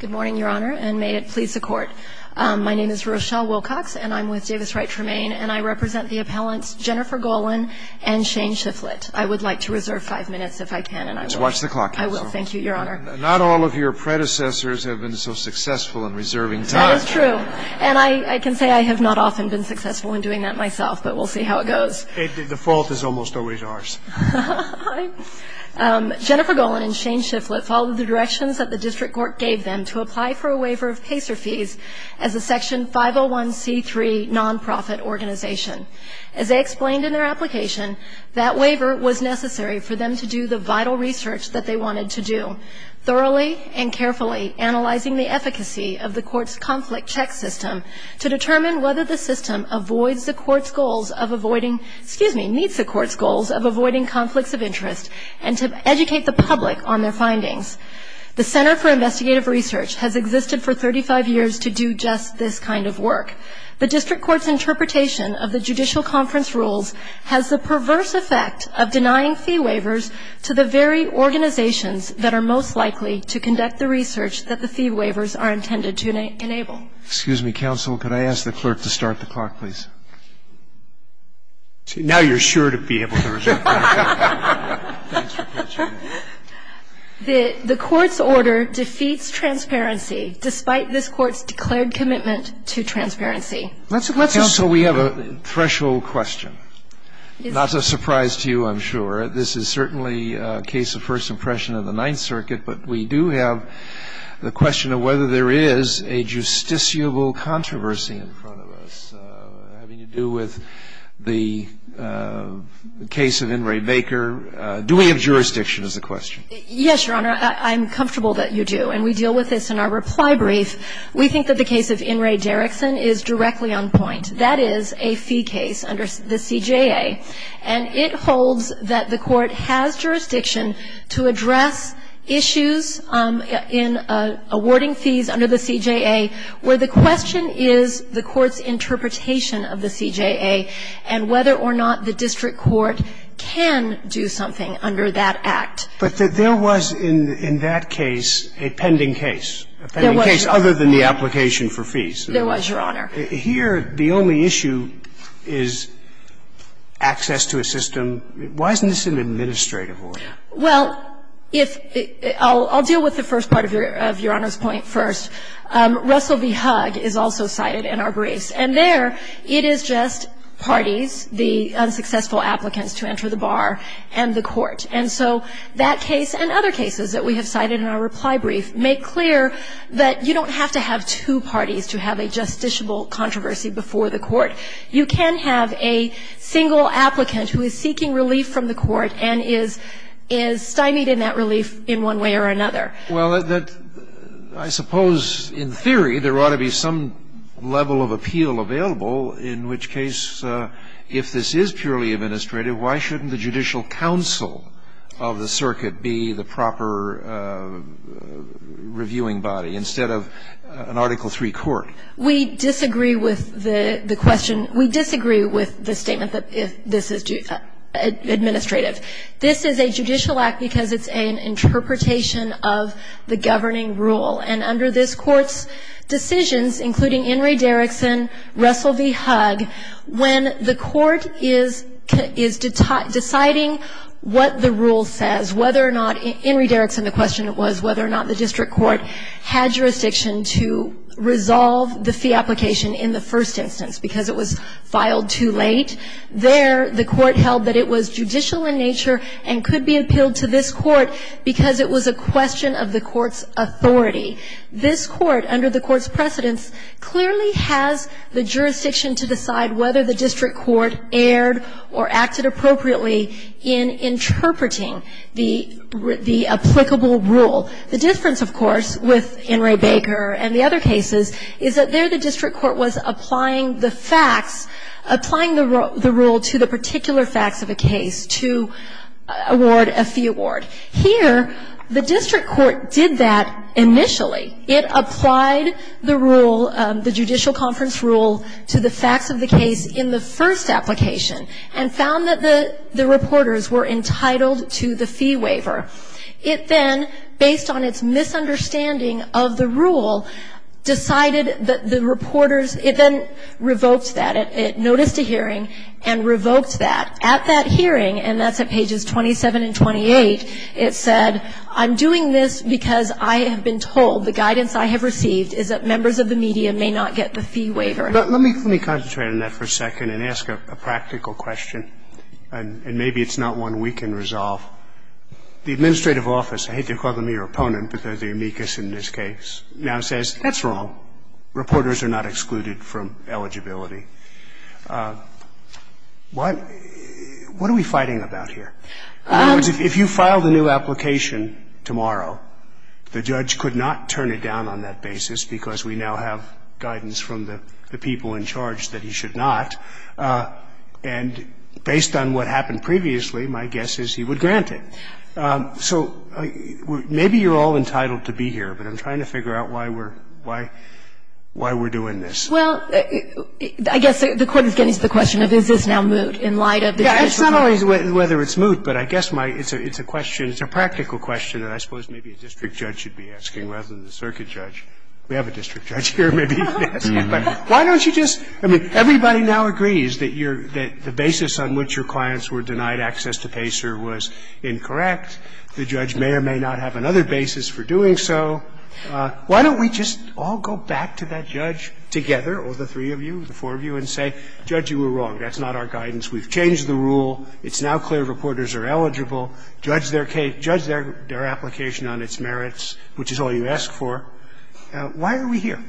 Good morning, Your Honor, and may it please the Court. My name is Rochelle Wilcox, and I'm with Davis Wright Tremaine, and I represent the appellants Jennifer Golan and Shane Shifflett. I would like to reserve five minutes if I can, and I will. Just watch the clock, Counselor. I will. Thank you, Your Honor. Not all of your predecessors have been so successful in reserving time. That is true, and I can say I have not often been successful in doing that myself, but we'll see how it goes. The fault is almost always ours. Hi. Jennifer Golan and Shane Shifflett followed the directions that the district court gave them to apply for a waiver of PACER fees as a Section 501c3 nonprofit organization. As they explained in their application, that waiver was necessary for them to do the vital research that they wanted to do, thoroughly and carefully analyzing the efficacy of the court's conflict check system to determine whether the system avoids the court's goals of avoiding, excuse me, meets the court's goals of avoiding conflicts of interest, and to educate the public on their findings. The Center for Investigative Research has existed for 35 years to do just this kind of work. The district court's interpretation of the judicial conference rules has the perverse effect of denying fee waivers to the very organizations that are most likely to conduct the research that the fee waivers are intended to enable. Excuse me, counsel. Could I ask the clerk to start the clock, please? Now you're sure to be able to resume. The court's order defeats transparency, despite this Court's declared commitment to transparency. Counsel, we have a threshold question. Not a surprise to you, I'm sure. This is certainly a case of first impression of the Ninth Circuit, but we do have the question of whether there is a justiciable controversy in front of us. Having to do with the case of In re Baker, do we have jurisdiction is the question? Yes, Your Honor. I'm comfortable that you do. And we deal with this in our reply brief. We think that the case of In re Derrickson is directly on point. That is a fee case under the CJA. And it holds that the court has jurisdiction to address issues in awarding fees under the CJA where the question is the court's interpretation of the CJA and whether or not the district court can do something under that act. But there was in that case a pending case. There was, Your Honor. A pending case other than the application for fees. There was, Your Honor. And we do have the question of whether there is a justiciable controversy And we do have the question of whether or not there is a justiciable controversy under the CJA. Here, the only issue is access to a system. Why isn't this an administrative order? Well, if the ‑‑ I'll deal with the first part of Your Honor's point first. Russell v. Hugg is also cited in our briefs. And there, it is just parties, the unsuccessful applicants to enter the bar and the court. And so that case and other cases that we have cited in our reply brief make clear that you don't have to have two parties to have a justiciable controversy before the court. You can have a single applicant who is seeking relief from the court and is stymied in that relief in one way or another. Well, I suppose in theory, there ought to be some level of appeal available in which case, if this is purely administrative, why shouldn't the judicial counsel of the circuit be the proper reviewing body instead of an Article III court? We disagree with the question. We disagree with the statement that this is administrative. This is a judicial act because it's an interpretation of the governing rule. And under this court's decisions, including Henry Derrickson, Russell v. Hugg, when the court is deciding what the rule says, whether or not ‑‑ Henry Derrickson, the question was whether or not the district court had jurisdiction to resolve the fee application in the first instance because it was filed too late. There, the court held that it was judicial in nature and could be appealed to this court because it was a question of the court's authority. This court, under the court's precedence, clearly has the jurisdiction to decide whether the district court erred or acted appropriately in interpreting the applicable rule. The difference, of course, with Henry Baker and the other cases is that there the rule to the particular facts of a case to award a fee award. Here, the district court did that initially. It applied the rule, the judicial conference rule, to the facts of the case in the first application and found that the reporters were entitled to the fee waiver. It then, based on its misunderstanding of the rule, decided that the reporters ‑‑ it then revoked that. It noticed a hearing and revoked that. At that hearing, and that's at pages 27 and 28, it said, I'm doing this because I have been told, the guidance I have received is that members of the media may not get the fee waiver. Let me concentrate on that for a second and ask a practical question, and maybe it's not one we can resolve. The administrative office, I hate to call them your opponent, but they're the amicus in this case, now says that's wrong. Reporters are not excluded from eligibility. What are we fighting about here? In other words, if you filed a new application tomorrow, the judge could not turn it down on that basis because we now have guidance from the people in charge that he should not. And based on what happened previously, my guess is he would grant it. So maybe you're all entitled to be here, but I'm trying to figure out why we're doing this. Well, I guess the Court is getting to the question of is this now moot in light of the judicial review? Yeah, it's not always whether it's moot, but I guess it's a question, it's a practical question that I suppose maybe a district judge should be asking rather than the circuit judge. We have a district judge here, maybe, yes. But why don't you just – I mean, everybody now agrees that the basis on which your clients were denied access to PACER was incorrect. The judge may or may not have another basis for doing so. Why don't we just all go back to that judge together, or the three of you, the four of you, and say, Judge, you were wrong. That's not our guidance. We've changed the rule. It's now clear reporters are eligible. Judge their case – judge their application on its merits, which is all you ask for. Why are we here?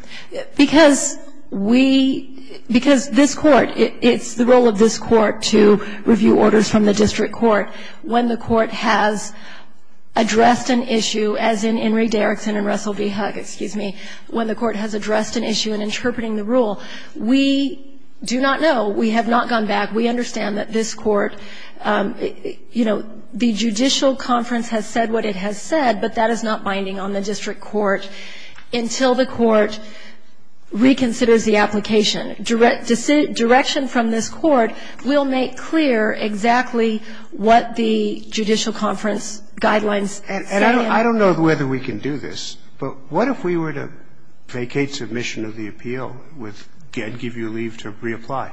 Because we – because this Court, it's the role of this Court to review orders from the district court. When the court has addressed an issue, as in Henry Derrickson and Russell v. Huck, excuse me, when the court has addressed an issue in interpreting the rule, we do not know. We have not gone back. We understand that this Court – you know, the judicial conference has said what it has said, but that is not binding on the district court until the court reconsiders the application. And that's why we're here. on the district court until the court reconsiders the application. Direction from this Court will make clear exactly what the judicial conference guidelines say. I don't know whether we can do this, but what if we were to vacate submission of the appeal with, again, give you leave to reapply?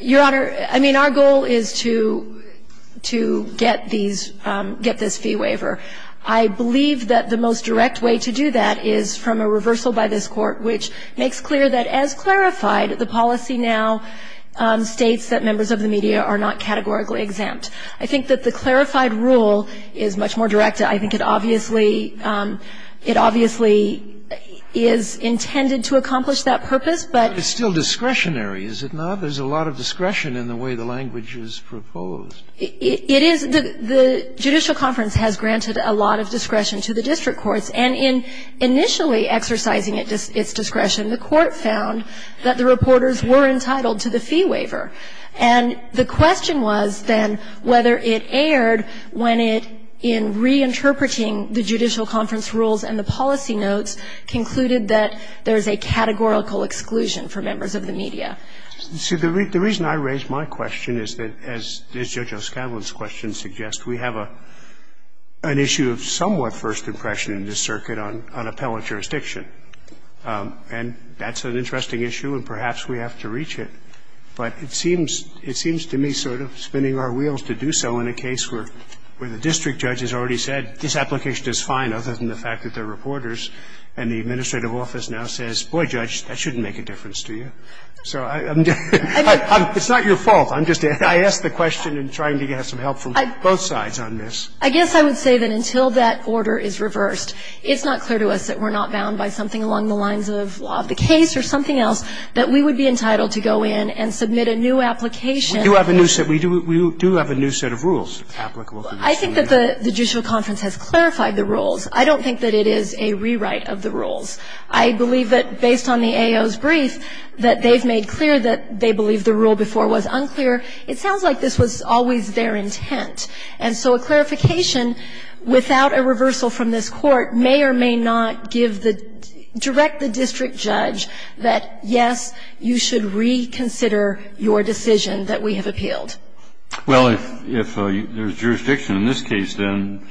Your Honor, I mean, our goal is to – to get these – get this fee waiver. I believe that the most direct way to do that is from a reversal by this Court, which makes clear that, as clarified, the policy now states that members of the media are not categorically exempt. I think that the clarified rule is much more direct. I think it obviously – it obviously is intended to accomplish that purpose, but – But it's still discretionary, is it not? There's a lot of discretion in the way the language is proposed. It is. The judicial conference has granted a lot of discretion to the district courts. And in initially exercising its discretion, the Court found that the reporters were entitled to the fee waiver. And the question was, then, whether it erred when it, in reinterpreting the judicial conference rules and the policy notes, concluded that there is a categorical exclusion for members of the media. See, the reason I raise my question is that, as Judge O'Scanlan's question suggests, we have an issue of somewhat first impression in this circuit on appellant jurisdiction. And that's an interesting issue, and perhaps we have to reach it. But it seems to me sort of spinning our wheels to do so in a case where the district judge has already said, this application is fine, other than the fact that they're reporters, and the administrative office now says, boy, Judge, that shouldn't make a difference to you. So I'm just – it's not your fault. I'm just – I asked the question in trying to get some help from both sides on this. I guess I would say that until that order is reversed, it's not clear to us that we're not bound by something along the lines of law of the case or something else, that we would be entitled to go in and submit a new application. We do have a new set of rules. I think that the judicial conference has clarified the rules. I don't think that it is a rewrite of the rules. I believe that, based on the AO's brief, that they've made clear that they believe the rule before was unclear. It sounds like this was always their intent. And so a clarification without a reversal from this Court may or may not give the – direct the district judge that, yes, you should reconsider your decision that we have appealed. Well, if there's jurisdiction in this case, then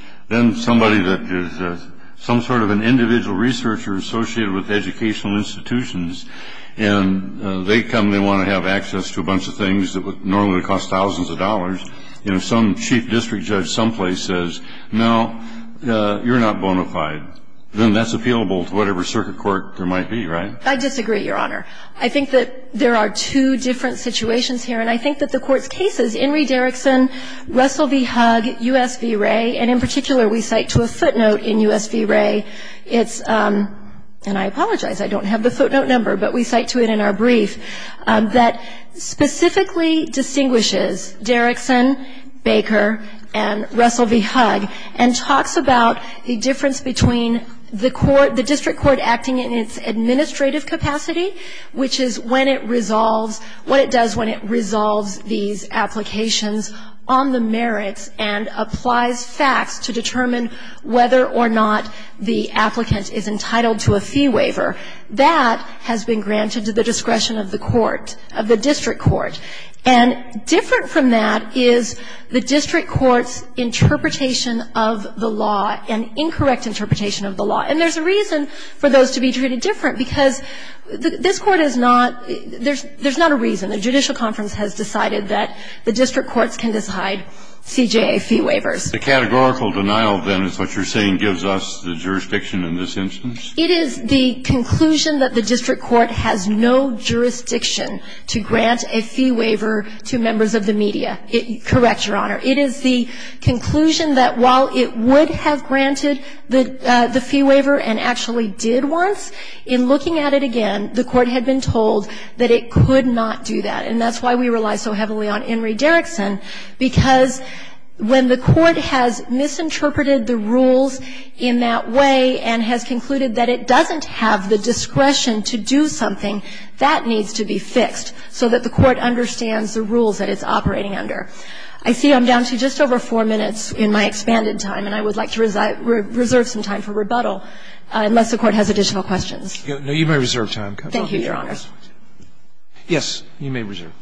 somebody that is some sort of an individual researcher associated with educational institutions, and they come, they want to have access to a bunch of things that would normally cost thousands of dollars, and if some chief district judge someplace says, no, you're not bona fide, then that's appealable to whatever circuit court there might be, right? I disagree, Your Honor. I think that there are two different situations here, and I think that the Court's cases, Henry Derrickson, Russell v. Hugg, U.S. v. Ray, and in particular we cite to a footnote in U.S. v. Ray, it's – and I apologize, I don't have the footnote number, but we cite to it in our brief – that specifically distinguishes Derrickson, Baker, and Russell v. Hugg, and talks about the difference between the court – the district court acting in its administrative capacity, which is when it resolves – what it does when it resolves these applications on the merits and applies facts to determine whether or not the applicant is entitled to a fee waiver. That has been granted to the discretion of the court – of the district court. And different from that is the district court's interpretation of the law, an incorrect interpretation of the law. And there's a reason for those to be treated different, because this Court is not – there's not a reason. The judicial conference has decided that the district courts can decide CJA fee waivers. The categorical denial, then, is what you're saying gives us the jurisdiction in this instance? It is the conclusion that the district court has no jurisdiction to grant a fee waiver to members of the media. Correct, Your Honor. It is the conclusion that while it would have granted the fee waiver and actually did once, in looking at it again, the court had been told that it could not do that. And that's why we rely so heavily on Enri Derrickson, because when the court has decided that it doesn't have the discretion to do something, that needs to be fixed so that the court understands the rules that it's operating under. I see I'm down to just over 4 minutes in my expanded time, and I would like to reserve some time for rebuttal, unless the Court has additional questions. No, you may reserve time. Thank you, Your Honor. Yes, you may reserve.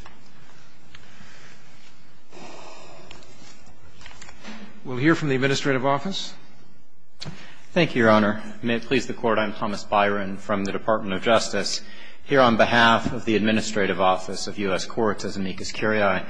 We'll hear from the administrative office. Thank you, Your Honor. May it please the Court, I'm Thomas Byron from the Department of Justice. Here on behalf of the Administrative Office of U.S. Courts as amicus curiae,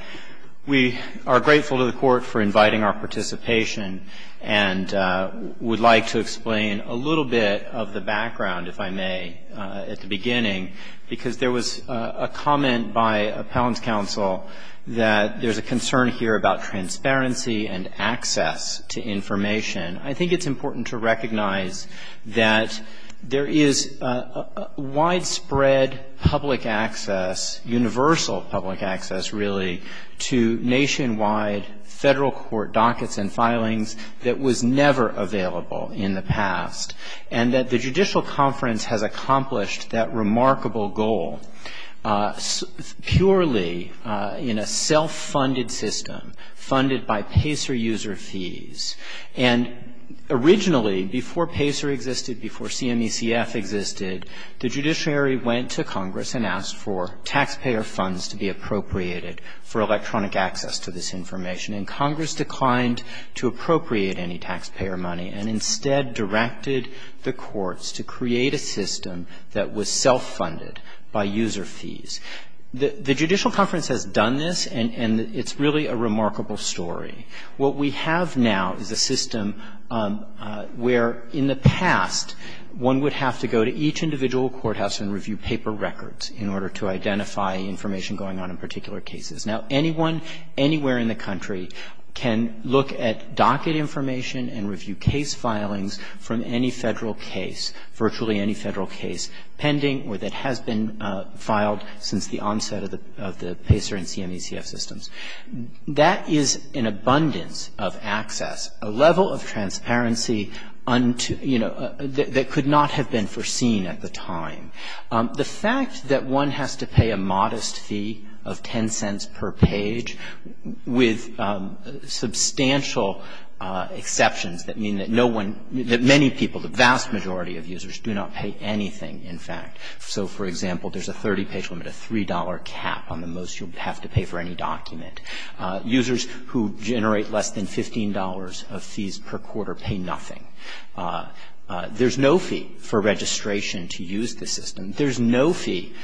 we are grateful to the Court for inviting our participation and would like to explain a little bit of the background, if I may, at the beginning, because there was a comment by appellant's counsel that there's a concern here about transparency and access to information. I think it's important to recognize that there is widespread public access, universal public access, really, to nationwide Federal court dockets and filings that was never available in the past, and that the Judicial Conference has accomplished that remarkable goal purely in a self-funded system, funded by PACER user fees. And originally, before PACER existed, before CMECF existed, the judiciary went to Congress and asked for taxpayer funds to be appropriated for electronic access to this information, and Congress declined to appropriate any taxpayer money and instead directed the courts to create a system that was self-funded by user fees. The Judicial Conference has done this, and it's really a remarkable story. What we have now is a system where, in the past, one would have to go to each individual courthouse and review paper records in order to identify information going on in particular case, virtually any Federal case pending or that has been filed since the onset of the PACER and CMECF systems. That is an abundance of access, a level of transparency, you know, that could not have been foreseen at the time. The fact that one has to pay a modest fee of 10 cents per page with substantial exceptions that mean that no one, that many people, the vast majority of users do not pay anything, in fact. So, for example, there's a 30-page limit, a $3 cap on the most you'll have to pay for any document. Users who generate less than $15 of fees per quarter pay nothing. There's no fee for registration to use the system. There's no fee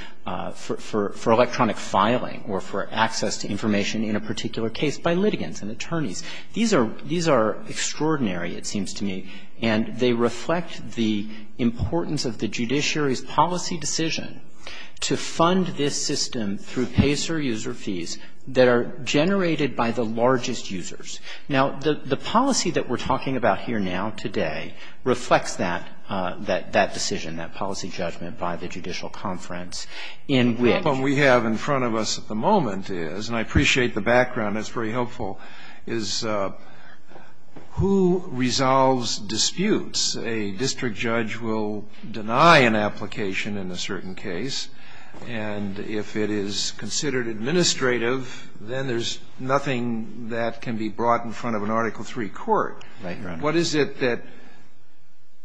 for electronic filing or for access to information in a particular case by litigants and attorneys. These are extraordinary, it seems to me, and they reflect the importance of the judiciary's policy decision to fund this system through PACER user fees that are generated by the largest users. Now, the policy that we're talking about here now, today, reflects that decision, that policy judgment by the Judicial Conference in which we have in front of us at the moment, and I appreciate the background, that's very helpful, is who resolves disputes? A district judge will deny an application in a certain case, and if it is considered administrative, then there's nothing that can be brought in front of an Article III court. What is it that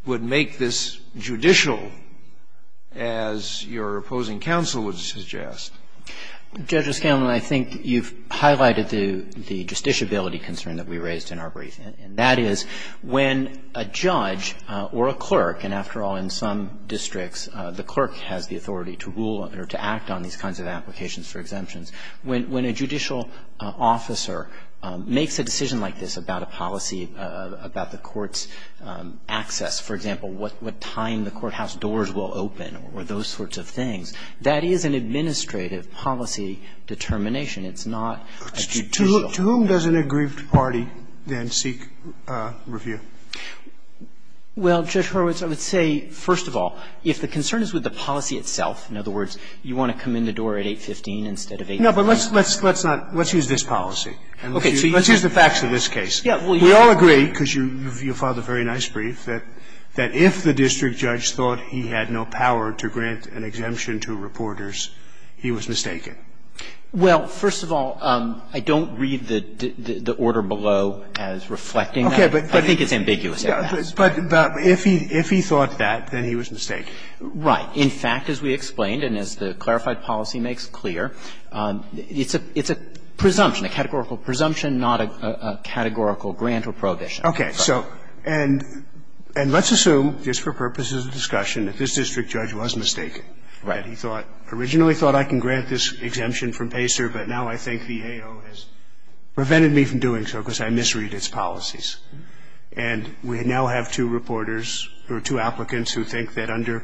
would make this judicial, as your opposing counsel would suggest? Justice Kagan, I think you've highlighted the justiciability concern that we raised in our briefing, and that is when a judge or a clerk, and after all, in some districts, the clerk has the authority to rule or to act on these kinds of applications for exemptions. When a judicial officer makes a decision like this about a policy, about the court's access, for example, what time the courthouse doors will open or those sorts of things, that is an administrative policy determination. It's not a judicial. To whom does an aggrieved party then seek review? Well, Judge Horowitz, I would say, first of all, if the concern is with the policy itself, in other words, you want to come in the door at 815 instead of 815. No, but let's not. Let's use this policy. Let's use the facts of this case. We all agree, because you filed a very nice brief, that if the district judge thought he had no power to grant an exemption to reporters, he was mistaken. Well, first of all, I don't read the order below as reflecting that. I think it's ambiguous at best. But if he thought that, then he was mistaken. Right. In fact, as we explained, and as the clarified policy makes clear, it's a presumption, a categorical presumption, not a categorical grant or prohibition. Okay. So and let's assume, just for purposes of discussion, that this district judge was mistaken. Right. He thought, originally thought I can grant this exemption from PACER, but now I think the AO has prevented me from doing so because I misread its policies. And we now have two reporters or two applicants who think that under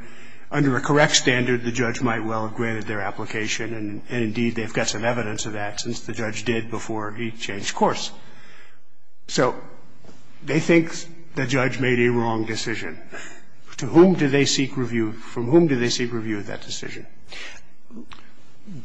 a correct standard, the judge might well have granted their application. And, indeed, they've got some evidence of that since the judge did before he changed So they think the judge made a wrong decision. To whom do they seek review? From whom do they seek review of that decision?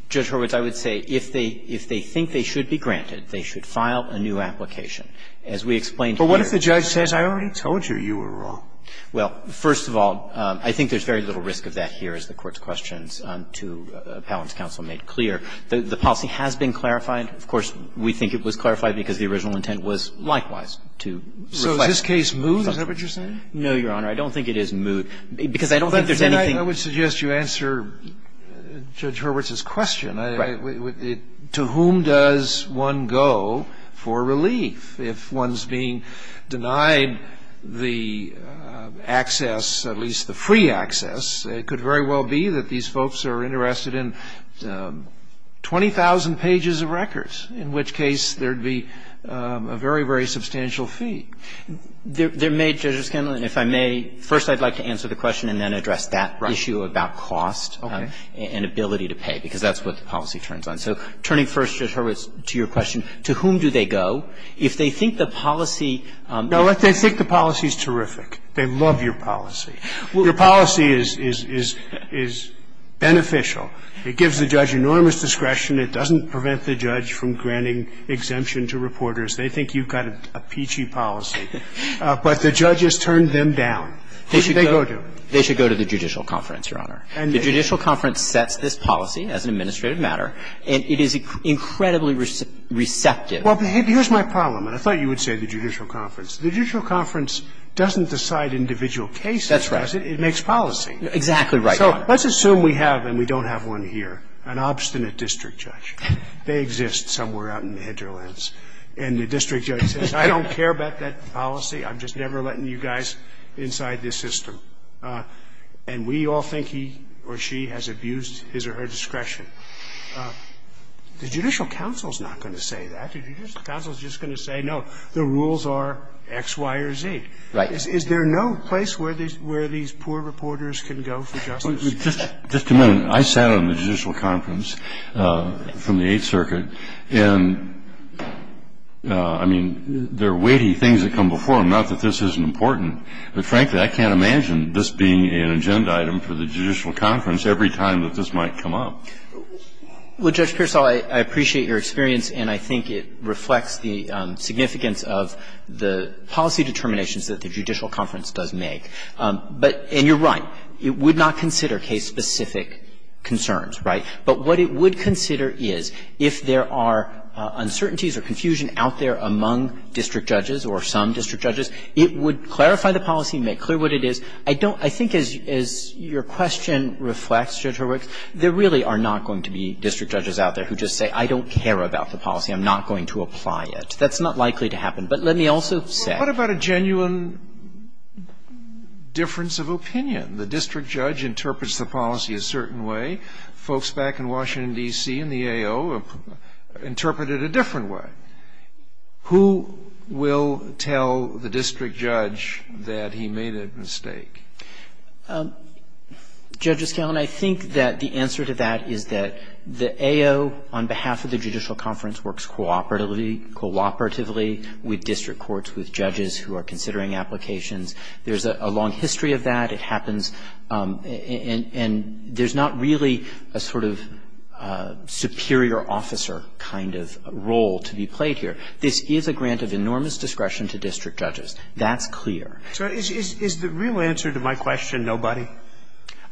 Judge Horwitz, I would say if they think they should be granted, they should file a new application. As we explained here. But what if the judge says, I already told you you were wrong? Well, first of all, I think there's very little risk of that here, as the Court's questions to Appellant's counsel made clear. The policy has been clarified. Of course, we think it was clarified because the original intent was likewise to reflect. So is this case moot? Is that what you're saying? No, Your Honor. I don't think it is moot, because I don't think there's anything. Then I would suggest you answer Judge Horwitz's question. Right. To whom does one go for relief? If one's being denied the access, at least the free access, it could very well be that these folks are interested in 20,000 pages of records, in which case there would be a very, very substantial fee. There may, Judge O'Scanlan, if I may, first I'd like to answer the question and then address that issue about cost and ability to pay, because that's what the policy turns on. So turning first, Judge Horwitz, to your question, to whom do they go? If they think the policy No, they think the policy is terrific. They love your policy. Your policy is beneficial. It gives the judge enormous discretion. It doesn't prevent the judge from granting exemption to reporters. They think you've got a peachy policy. But the judges turn them down. Who should they go to? They should go to the Judicial Conference, Your Honor. The Judicial Conference sets this policy as an administrative matter, and it is incredibly receptive. Well, here's my problem, and I thought you would say the Judicial Conference. The Judicial Conference doesn't decide individual cases. That's right. It makes policy. Exactly right, Your Honor. So let's assume we have, and we don't have one here, an obstinate district judge. They exist somewhere out in the hinterlands. And the district judge says, I don't care about that policy. I'm just never letting you guys inside this system. And we all think he or she has abused his or her discretion. The Judicial Council is not going to say that. The Judicial Council is just going to say, no, the rules are X, Y, or Z. Right. Is there no place where these poor reporters can go for justice? Just a minute. I sat on the Judicial Conference from the Eighth Circuit. And, I mean, there are weighty things that come before them, not that this isn't important, but frankly, I can't imagine this being an agenda item for the Judicial Conference every time that this might come up. Well, Judge Pearsall, I appreciate your experience, and I think it reflects the significance of the policy determinations that the Judicial Conference does make. But you're right. It would not consider case-specific concerns, right? But what it would consider is if there are uncertainties or confusion out there among district judges or some district judges, it would clarify the policy and make clear what it is. I think as your question reflects, Judge Horwitz, there really are not going to be district judges out there who just say, I don't care about the policy. I'm not going to apply it. That's not likely to happen. But let me also say — But what about a genuine difference of opinion? The district judge interprets the policy a certain way. Folks back in Washington, D.C. and the AO interpret it a different way. Who will tell the district judge that he made a mistake? Judges, I think that the answer to that is that the AO, on behalf of the Judicial Conference, works cooperatively with district courts, with judges who are considering applications. There's a long history of that. It happens. And there's not really a sort of superior officer kind of role to be played here. This is a grant of enormous discretion to district judges. That's clear. So is the real answer to my question nobody?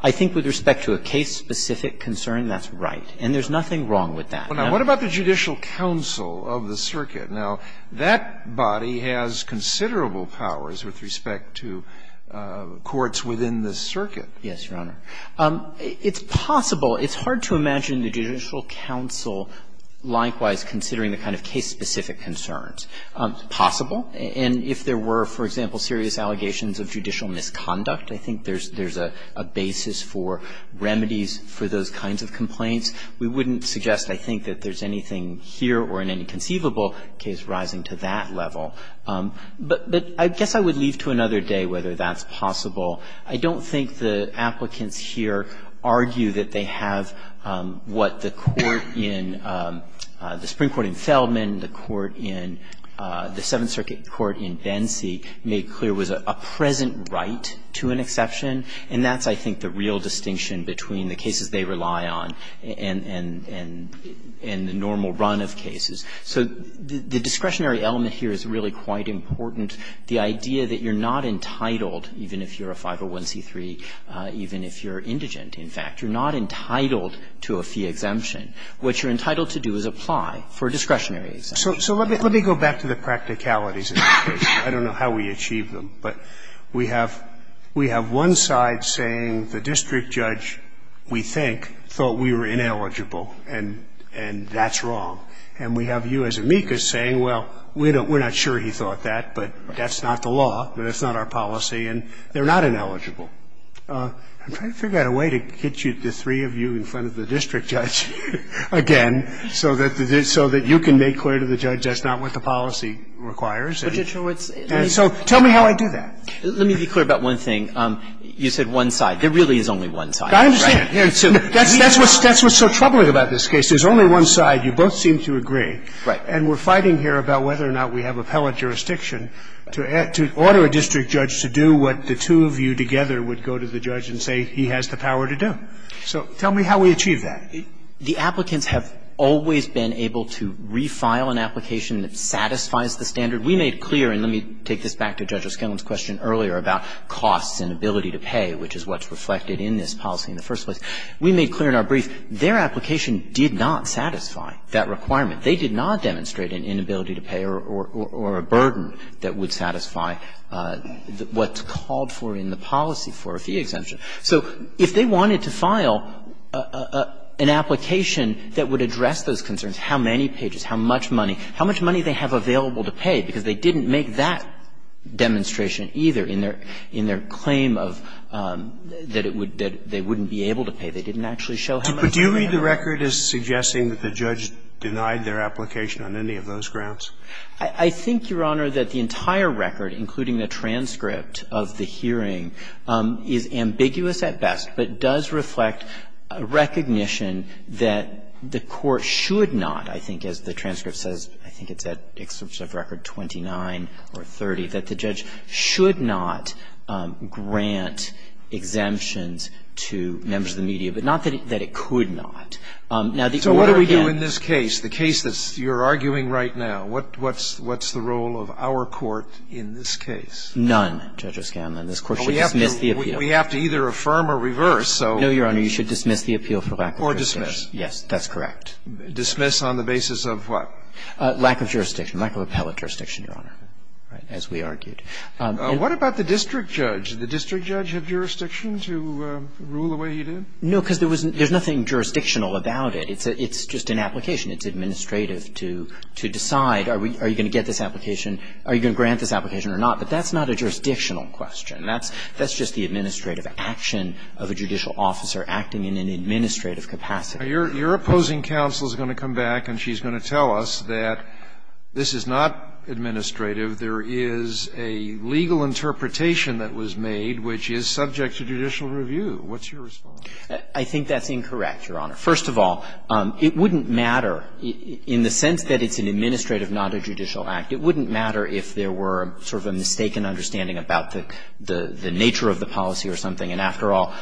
I think with respect to a case-specific concern, that's right. And there's nothing wrong with that. Now, what about the Judicial Council of the circuit? Now, that body has considerable powers with respect to courts within the circuit. Yes, Your Honor. It's possible. It's hard to imagine the Judicial Council likewise considering the kind of case-specific concerns. Possible. And if there were, for example, serious allegations of judicial misconduct, I think there's a basis for remedies for those kinds of complaints. We wouldn't suggest, I think, that there's anything here or in any conceivable case rising to that level. But I guess I would leave to another day whether that's possible. I don't think the applicants here argue that they have what the court in the Supreme Court in Feldman, the court in the Seventh Circuit Court in Bensee made clear was a present right to an exception. And that's, I think, the real distinction between the cases they rely on and the normal run of cases. So the discretionary element here is really quite important. The idea that you're not entitled, even if you're a 501c3, even if you're indigent, in fact, you're not entitled to a fee exemption. What you're entitled to do is apply for a discretionary exemption. So let me go back to the practicalities of the case. I don't know how we achieve them. But we have one side saying the district judge, we think, thought we were ineligible and that's wrong. And we have you as amicus saying, well, we're not sure he thought that, but that's not the law, that's not our policy, and they're not ineligible. I'm trying to figure out a way to get the three of you in front of the district judge again so that you can make clear to the judge that's not what the policy requires. And so tell me how I do that. Let me be clear about one thing. You said one side. There really is only one side. I understand. That's what's so troubling about this case. There's only one side. You both seem to agree. Right. And we're fighting here about whether or not we have appellate jurisdiction to order a district judge to do what the two of you together would go to the judge and say he has the power to do. So tell me how we achieve that. The applicants have always been able to refile an application that satisfies the standard. We made clear, and let me take this back to Judge O'Skillen's question earlier about costs and inability to pay, which is what's reflected in this policy in the first place. We made clear in our brief their application did not satisfy that requirement. They did not demonstrate an inability to pay or a burden that would satisfy what's called for in the policy for a fee exemption. So if they wanted to file an application that would address those concerns, how many they didn't make that demonstration either in their claim of that they wouldn't be able to pay. They didn't actually show how much they had. But do you read the record as suggesting that the judge denied their application on any of those grounds? I think, Your Honor, that the entire record, including the transcript of the hearing, is ambiguous at best, but does reflect recognition that the court should not, I think as the transcript says, I think it's at record 29 or 30, that the judge should not grant exemptions to members of the media. But not that it could not. So what do we do in this case, the case that you're arguing right now? What's the role of our court in this case? None, Judge O'Skillen. This court should dismiss the appeal. But we have to either affirm or reverse. No, Your Honor. You should dismiss the appeal for lack of justification. Or dismiss. Yes, that's correct. Dismiss on the basis of what? Lack of jurisdiction. Lack of appellate jurisdiction, Your Honor, as we argued. What about the district judge? Did the district judge have jurisdiction to rule the way he did? No, because there's nothing jurisdictional about it. It's just an application. It's administrative to decide are you going to get this application, are you going to grant this application or not. But that's not a jurisdictional question. That's just the administrative action of a judicial officer acting in an administrative capacity. Your opposing counsel is going to come back and she's going to tell us that this is not administrative. There is a legal interpretation that was made which is subject to judicial review. What's your response? I think that's incorrect, Your Honor. First of all, it wouldn't matter in the sense that it's an administrative, not a judicial act. It wouldn't matter if there were sort of a mistaken understanding about the nature of the policy or something. And after all,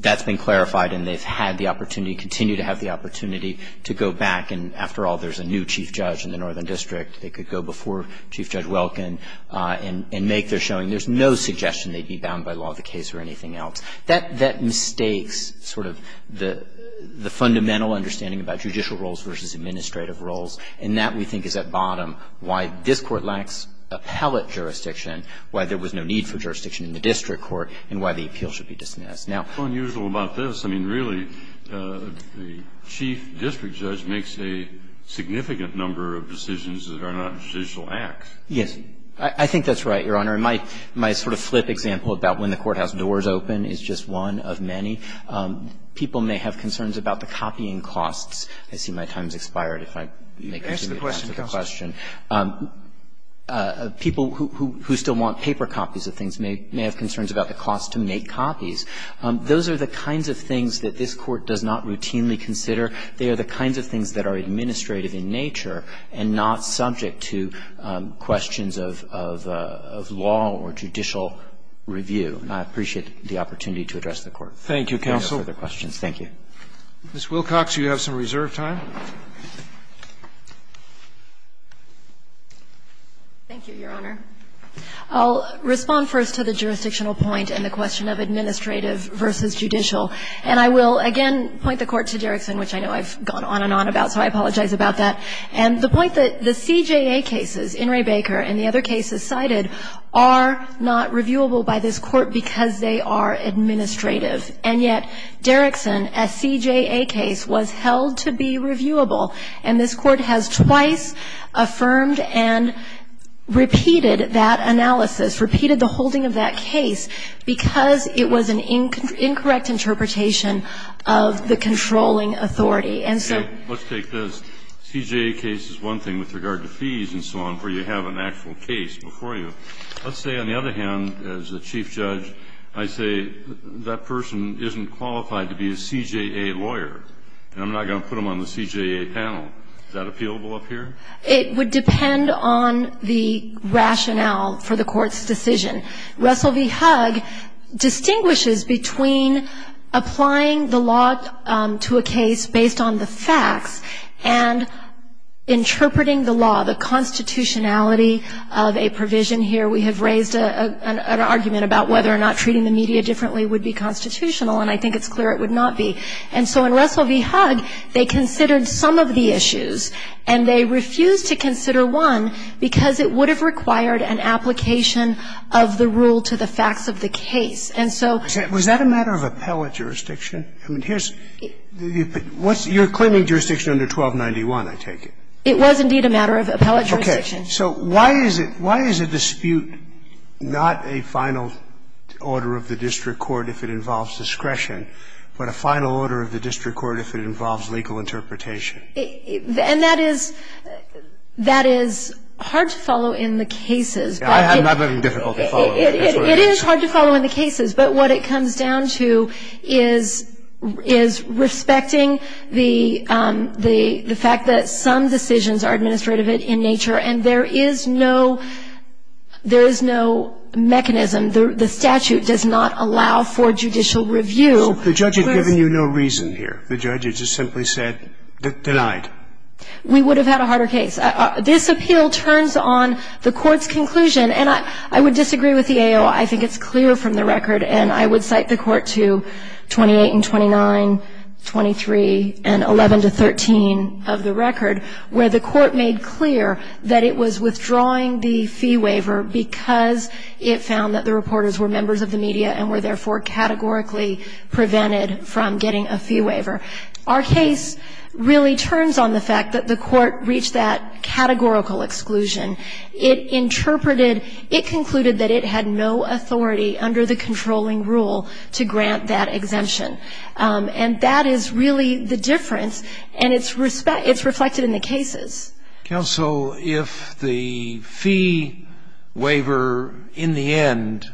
that's been clarified and they've had the opportunity, continue to have the opportunity to go back. And after all, there's a new chief judge in the northern district. They could go before Chief Judge Welkin and make their showing. There's no suggestion they'd be bound by law of the case or anything else. That mistakes sort of the fundamental understanding about judicial roles versus administrative roles, and that, we think, is at bottom, why this Court lacks appellate jurisdiction, why there was no need for jurisdiction in the district court, and why the appeal should be dismissed. Now unusual about this, I mean, really, the chief district judge makes a significant number of decisions that are not judicial acts. Yes. I think that's right, Your Honor. And my sort of flip example about when the courthouse doors open is just one of many. People may have concerns about the copying costs. I see my time has expired if I continue to answer the question. People who still want paper copies of things may have concerns about the cost to make copies. Those are the kinds of things that this Court does not routinely consider. They are the kinds of things that are administrative in nature and not subject to questions of law or judicial review. And I appreciate the opportunity to address the Court. Thank you, counsel. If you have further questions. Thank you. Ms. Wilcox, you have some reserve time. Thank you, Your Honor. I'll respond first to the jurisdictional point and the question of administrative versus judicial. And I will, again, point the Court to Derrickson, which I know I've gone on and on about, so I apologize about that. And the point that the CJA cases, In re Baker and the other cases cited, are not reviewable by this Court because they are administrative. And yet Derrickson, a CJA case, was held to be reviewable. And this Court has twice affirmed and repeated that analysis, repeated the holding of that case, because it was an incorrect interpretation of the controlling authority. And so Let's take this. CJA case is one thing with regard to fees and so on, where you have an actual case before you. Let's say, on the other hand, as a chief judge, I say that person isn't qualified to be a CJA lawyer. And I'm not going to put them on the CJA panel. Is that appealable up here? It would depend on the rationale for the Court's decision. Russell v. Hugg distinguishes between applying the law to a case based on the facts and interpreting the law, the constitutionality of a provision. Here we have raised an argument about whether or not treating the media differently would be constitutional. And I think it's clear it would not be. And so in Russell v. Hugg, they considered some of the issues, and they refused to consider one because it would have required an application of the rule to the facts of the case. And so ---- Was that a matter of appellate jurisdiction? I mean, here's the ---- you're claiming jurisdiction under 1291, I take it. It was, indeed, a matter of appellate jurisdiction. Okay. So why is it why is a dispute not a final order of the district court if it involves discretion, but a final order of the district court if it involves legal interpretation? And that is ---- that is hard to follow in the cases. I'm not making it difficult to follow. It is hard to follow in the cases. But what it comes down to is respecting the fact that some decisions are administrative in nature, and there is no ---- there is no mechanism. The statute does not allow for judicial review. So if the judge had given you no reason here, if the judge had just simply said they lied? We would have had a harder case. This appeal turns on the court's conclusion. And I would disagree with the AO. I think it's clear from the record, and I would cite the court to 28 and 29, 23, and 11 to 13 of the record, where the court made clear that it was withdrawing the fee waiver because it found that the reporters were members of the media and were therefore categorically prevented from getting a fee waiver. Our case really turns on the fact that the court reached that categorical exclusion. It interpreted ---- it concluded that it had no authority under the controlling rule to grant that exemption. And that is really the difference, and it's reflected in the cases. Counsel, if the fee waiver in the end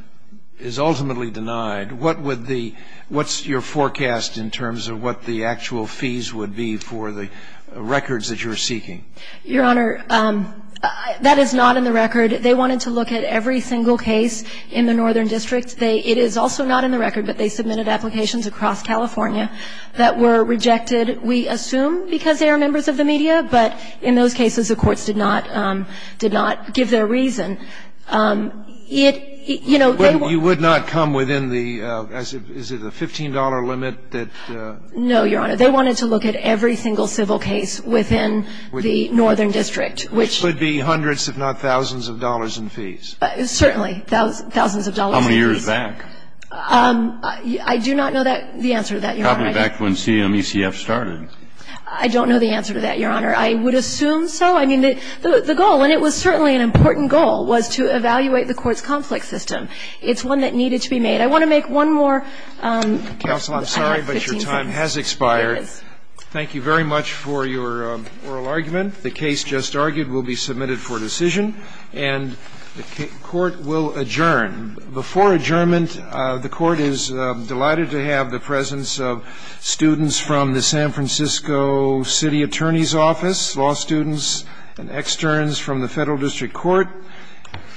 is ultimately denied, what would the ---- what's your forecast in terms of what the actual fees would be for the records that you're seeking? Your Honor, that is not in the record. They wanted to look at every single case in the Northern District. They ---- it is also not in the record, but they submitted applications across California that were rejected. We assume because they are members of the media, but in those cases, the courts did not ---- did not give their reason. It ---- you know, they ---- But you would not come within the ---- is it a $15 limit that ---- No, Your Honor. They wanted to look at every single civil case within the Northern District, which ---- Which would be hundreds if not thousands of dollars in fees. Certainly, thousands of dollars in fees. I do not know that ---- the answer to that, Your Honor. Probably back when CMECF started. I don't know the answer to that, Your Honor. I would assume so. I mean, the goal, and it was certainly an important goal, was to evaluate the court's conflict system. It's one that needed to be made. I want to make one more. Counsel, I'm sorry, but your time has expired. Thank you very much for your oral argument. The case just argued will be submitted for decision, and the court will adjourn. Before adjournment, the court is delighted to have the presence of students from the San Francisco City Attorney's Office, law students and externs from the Federal District Court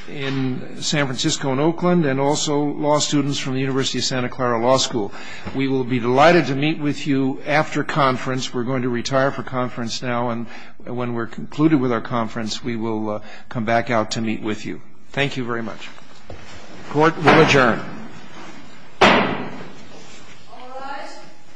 in San Francisco and Oakland, and also law students from the University of Santa Clara Law School. We will be delighted to meet with you after conference. We're going to retire for conference now, and when we're concluded with our conference, we will come back out to meet with you. Thank you very much. Court will adjourn. All rise.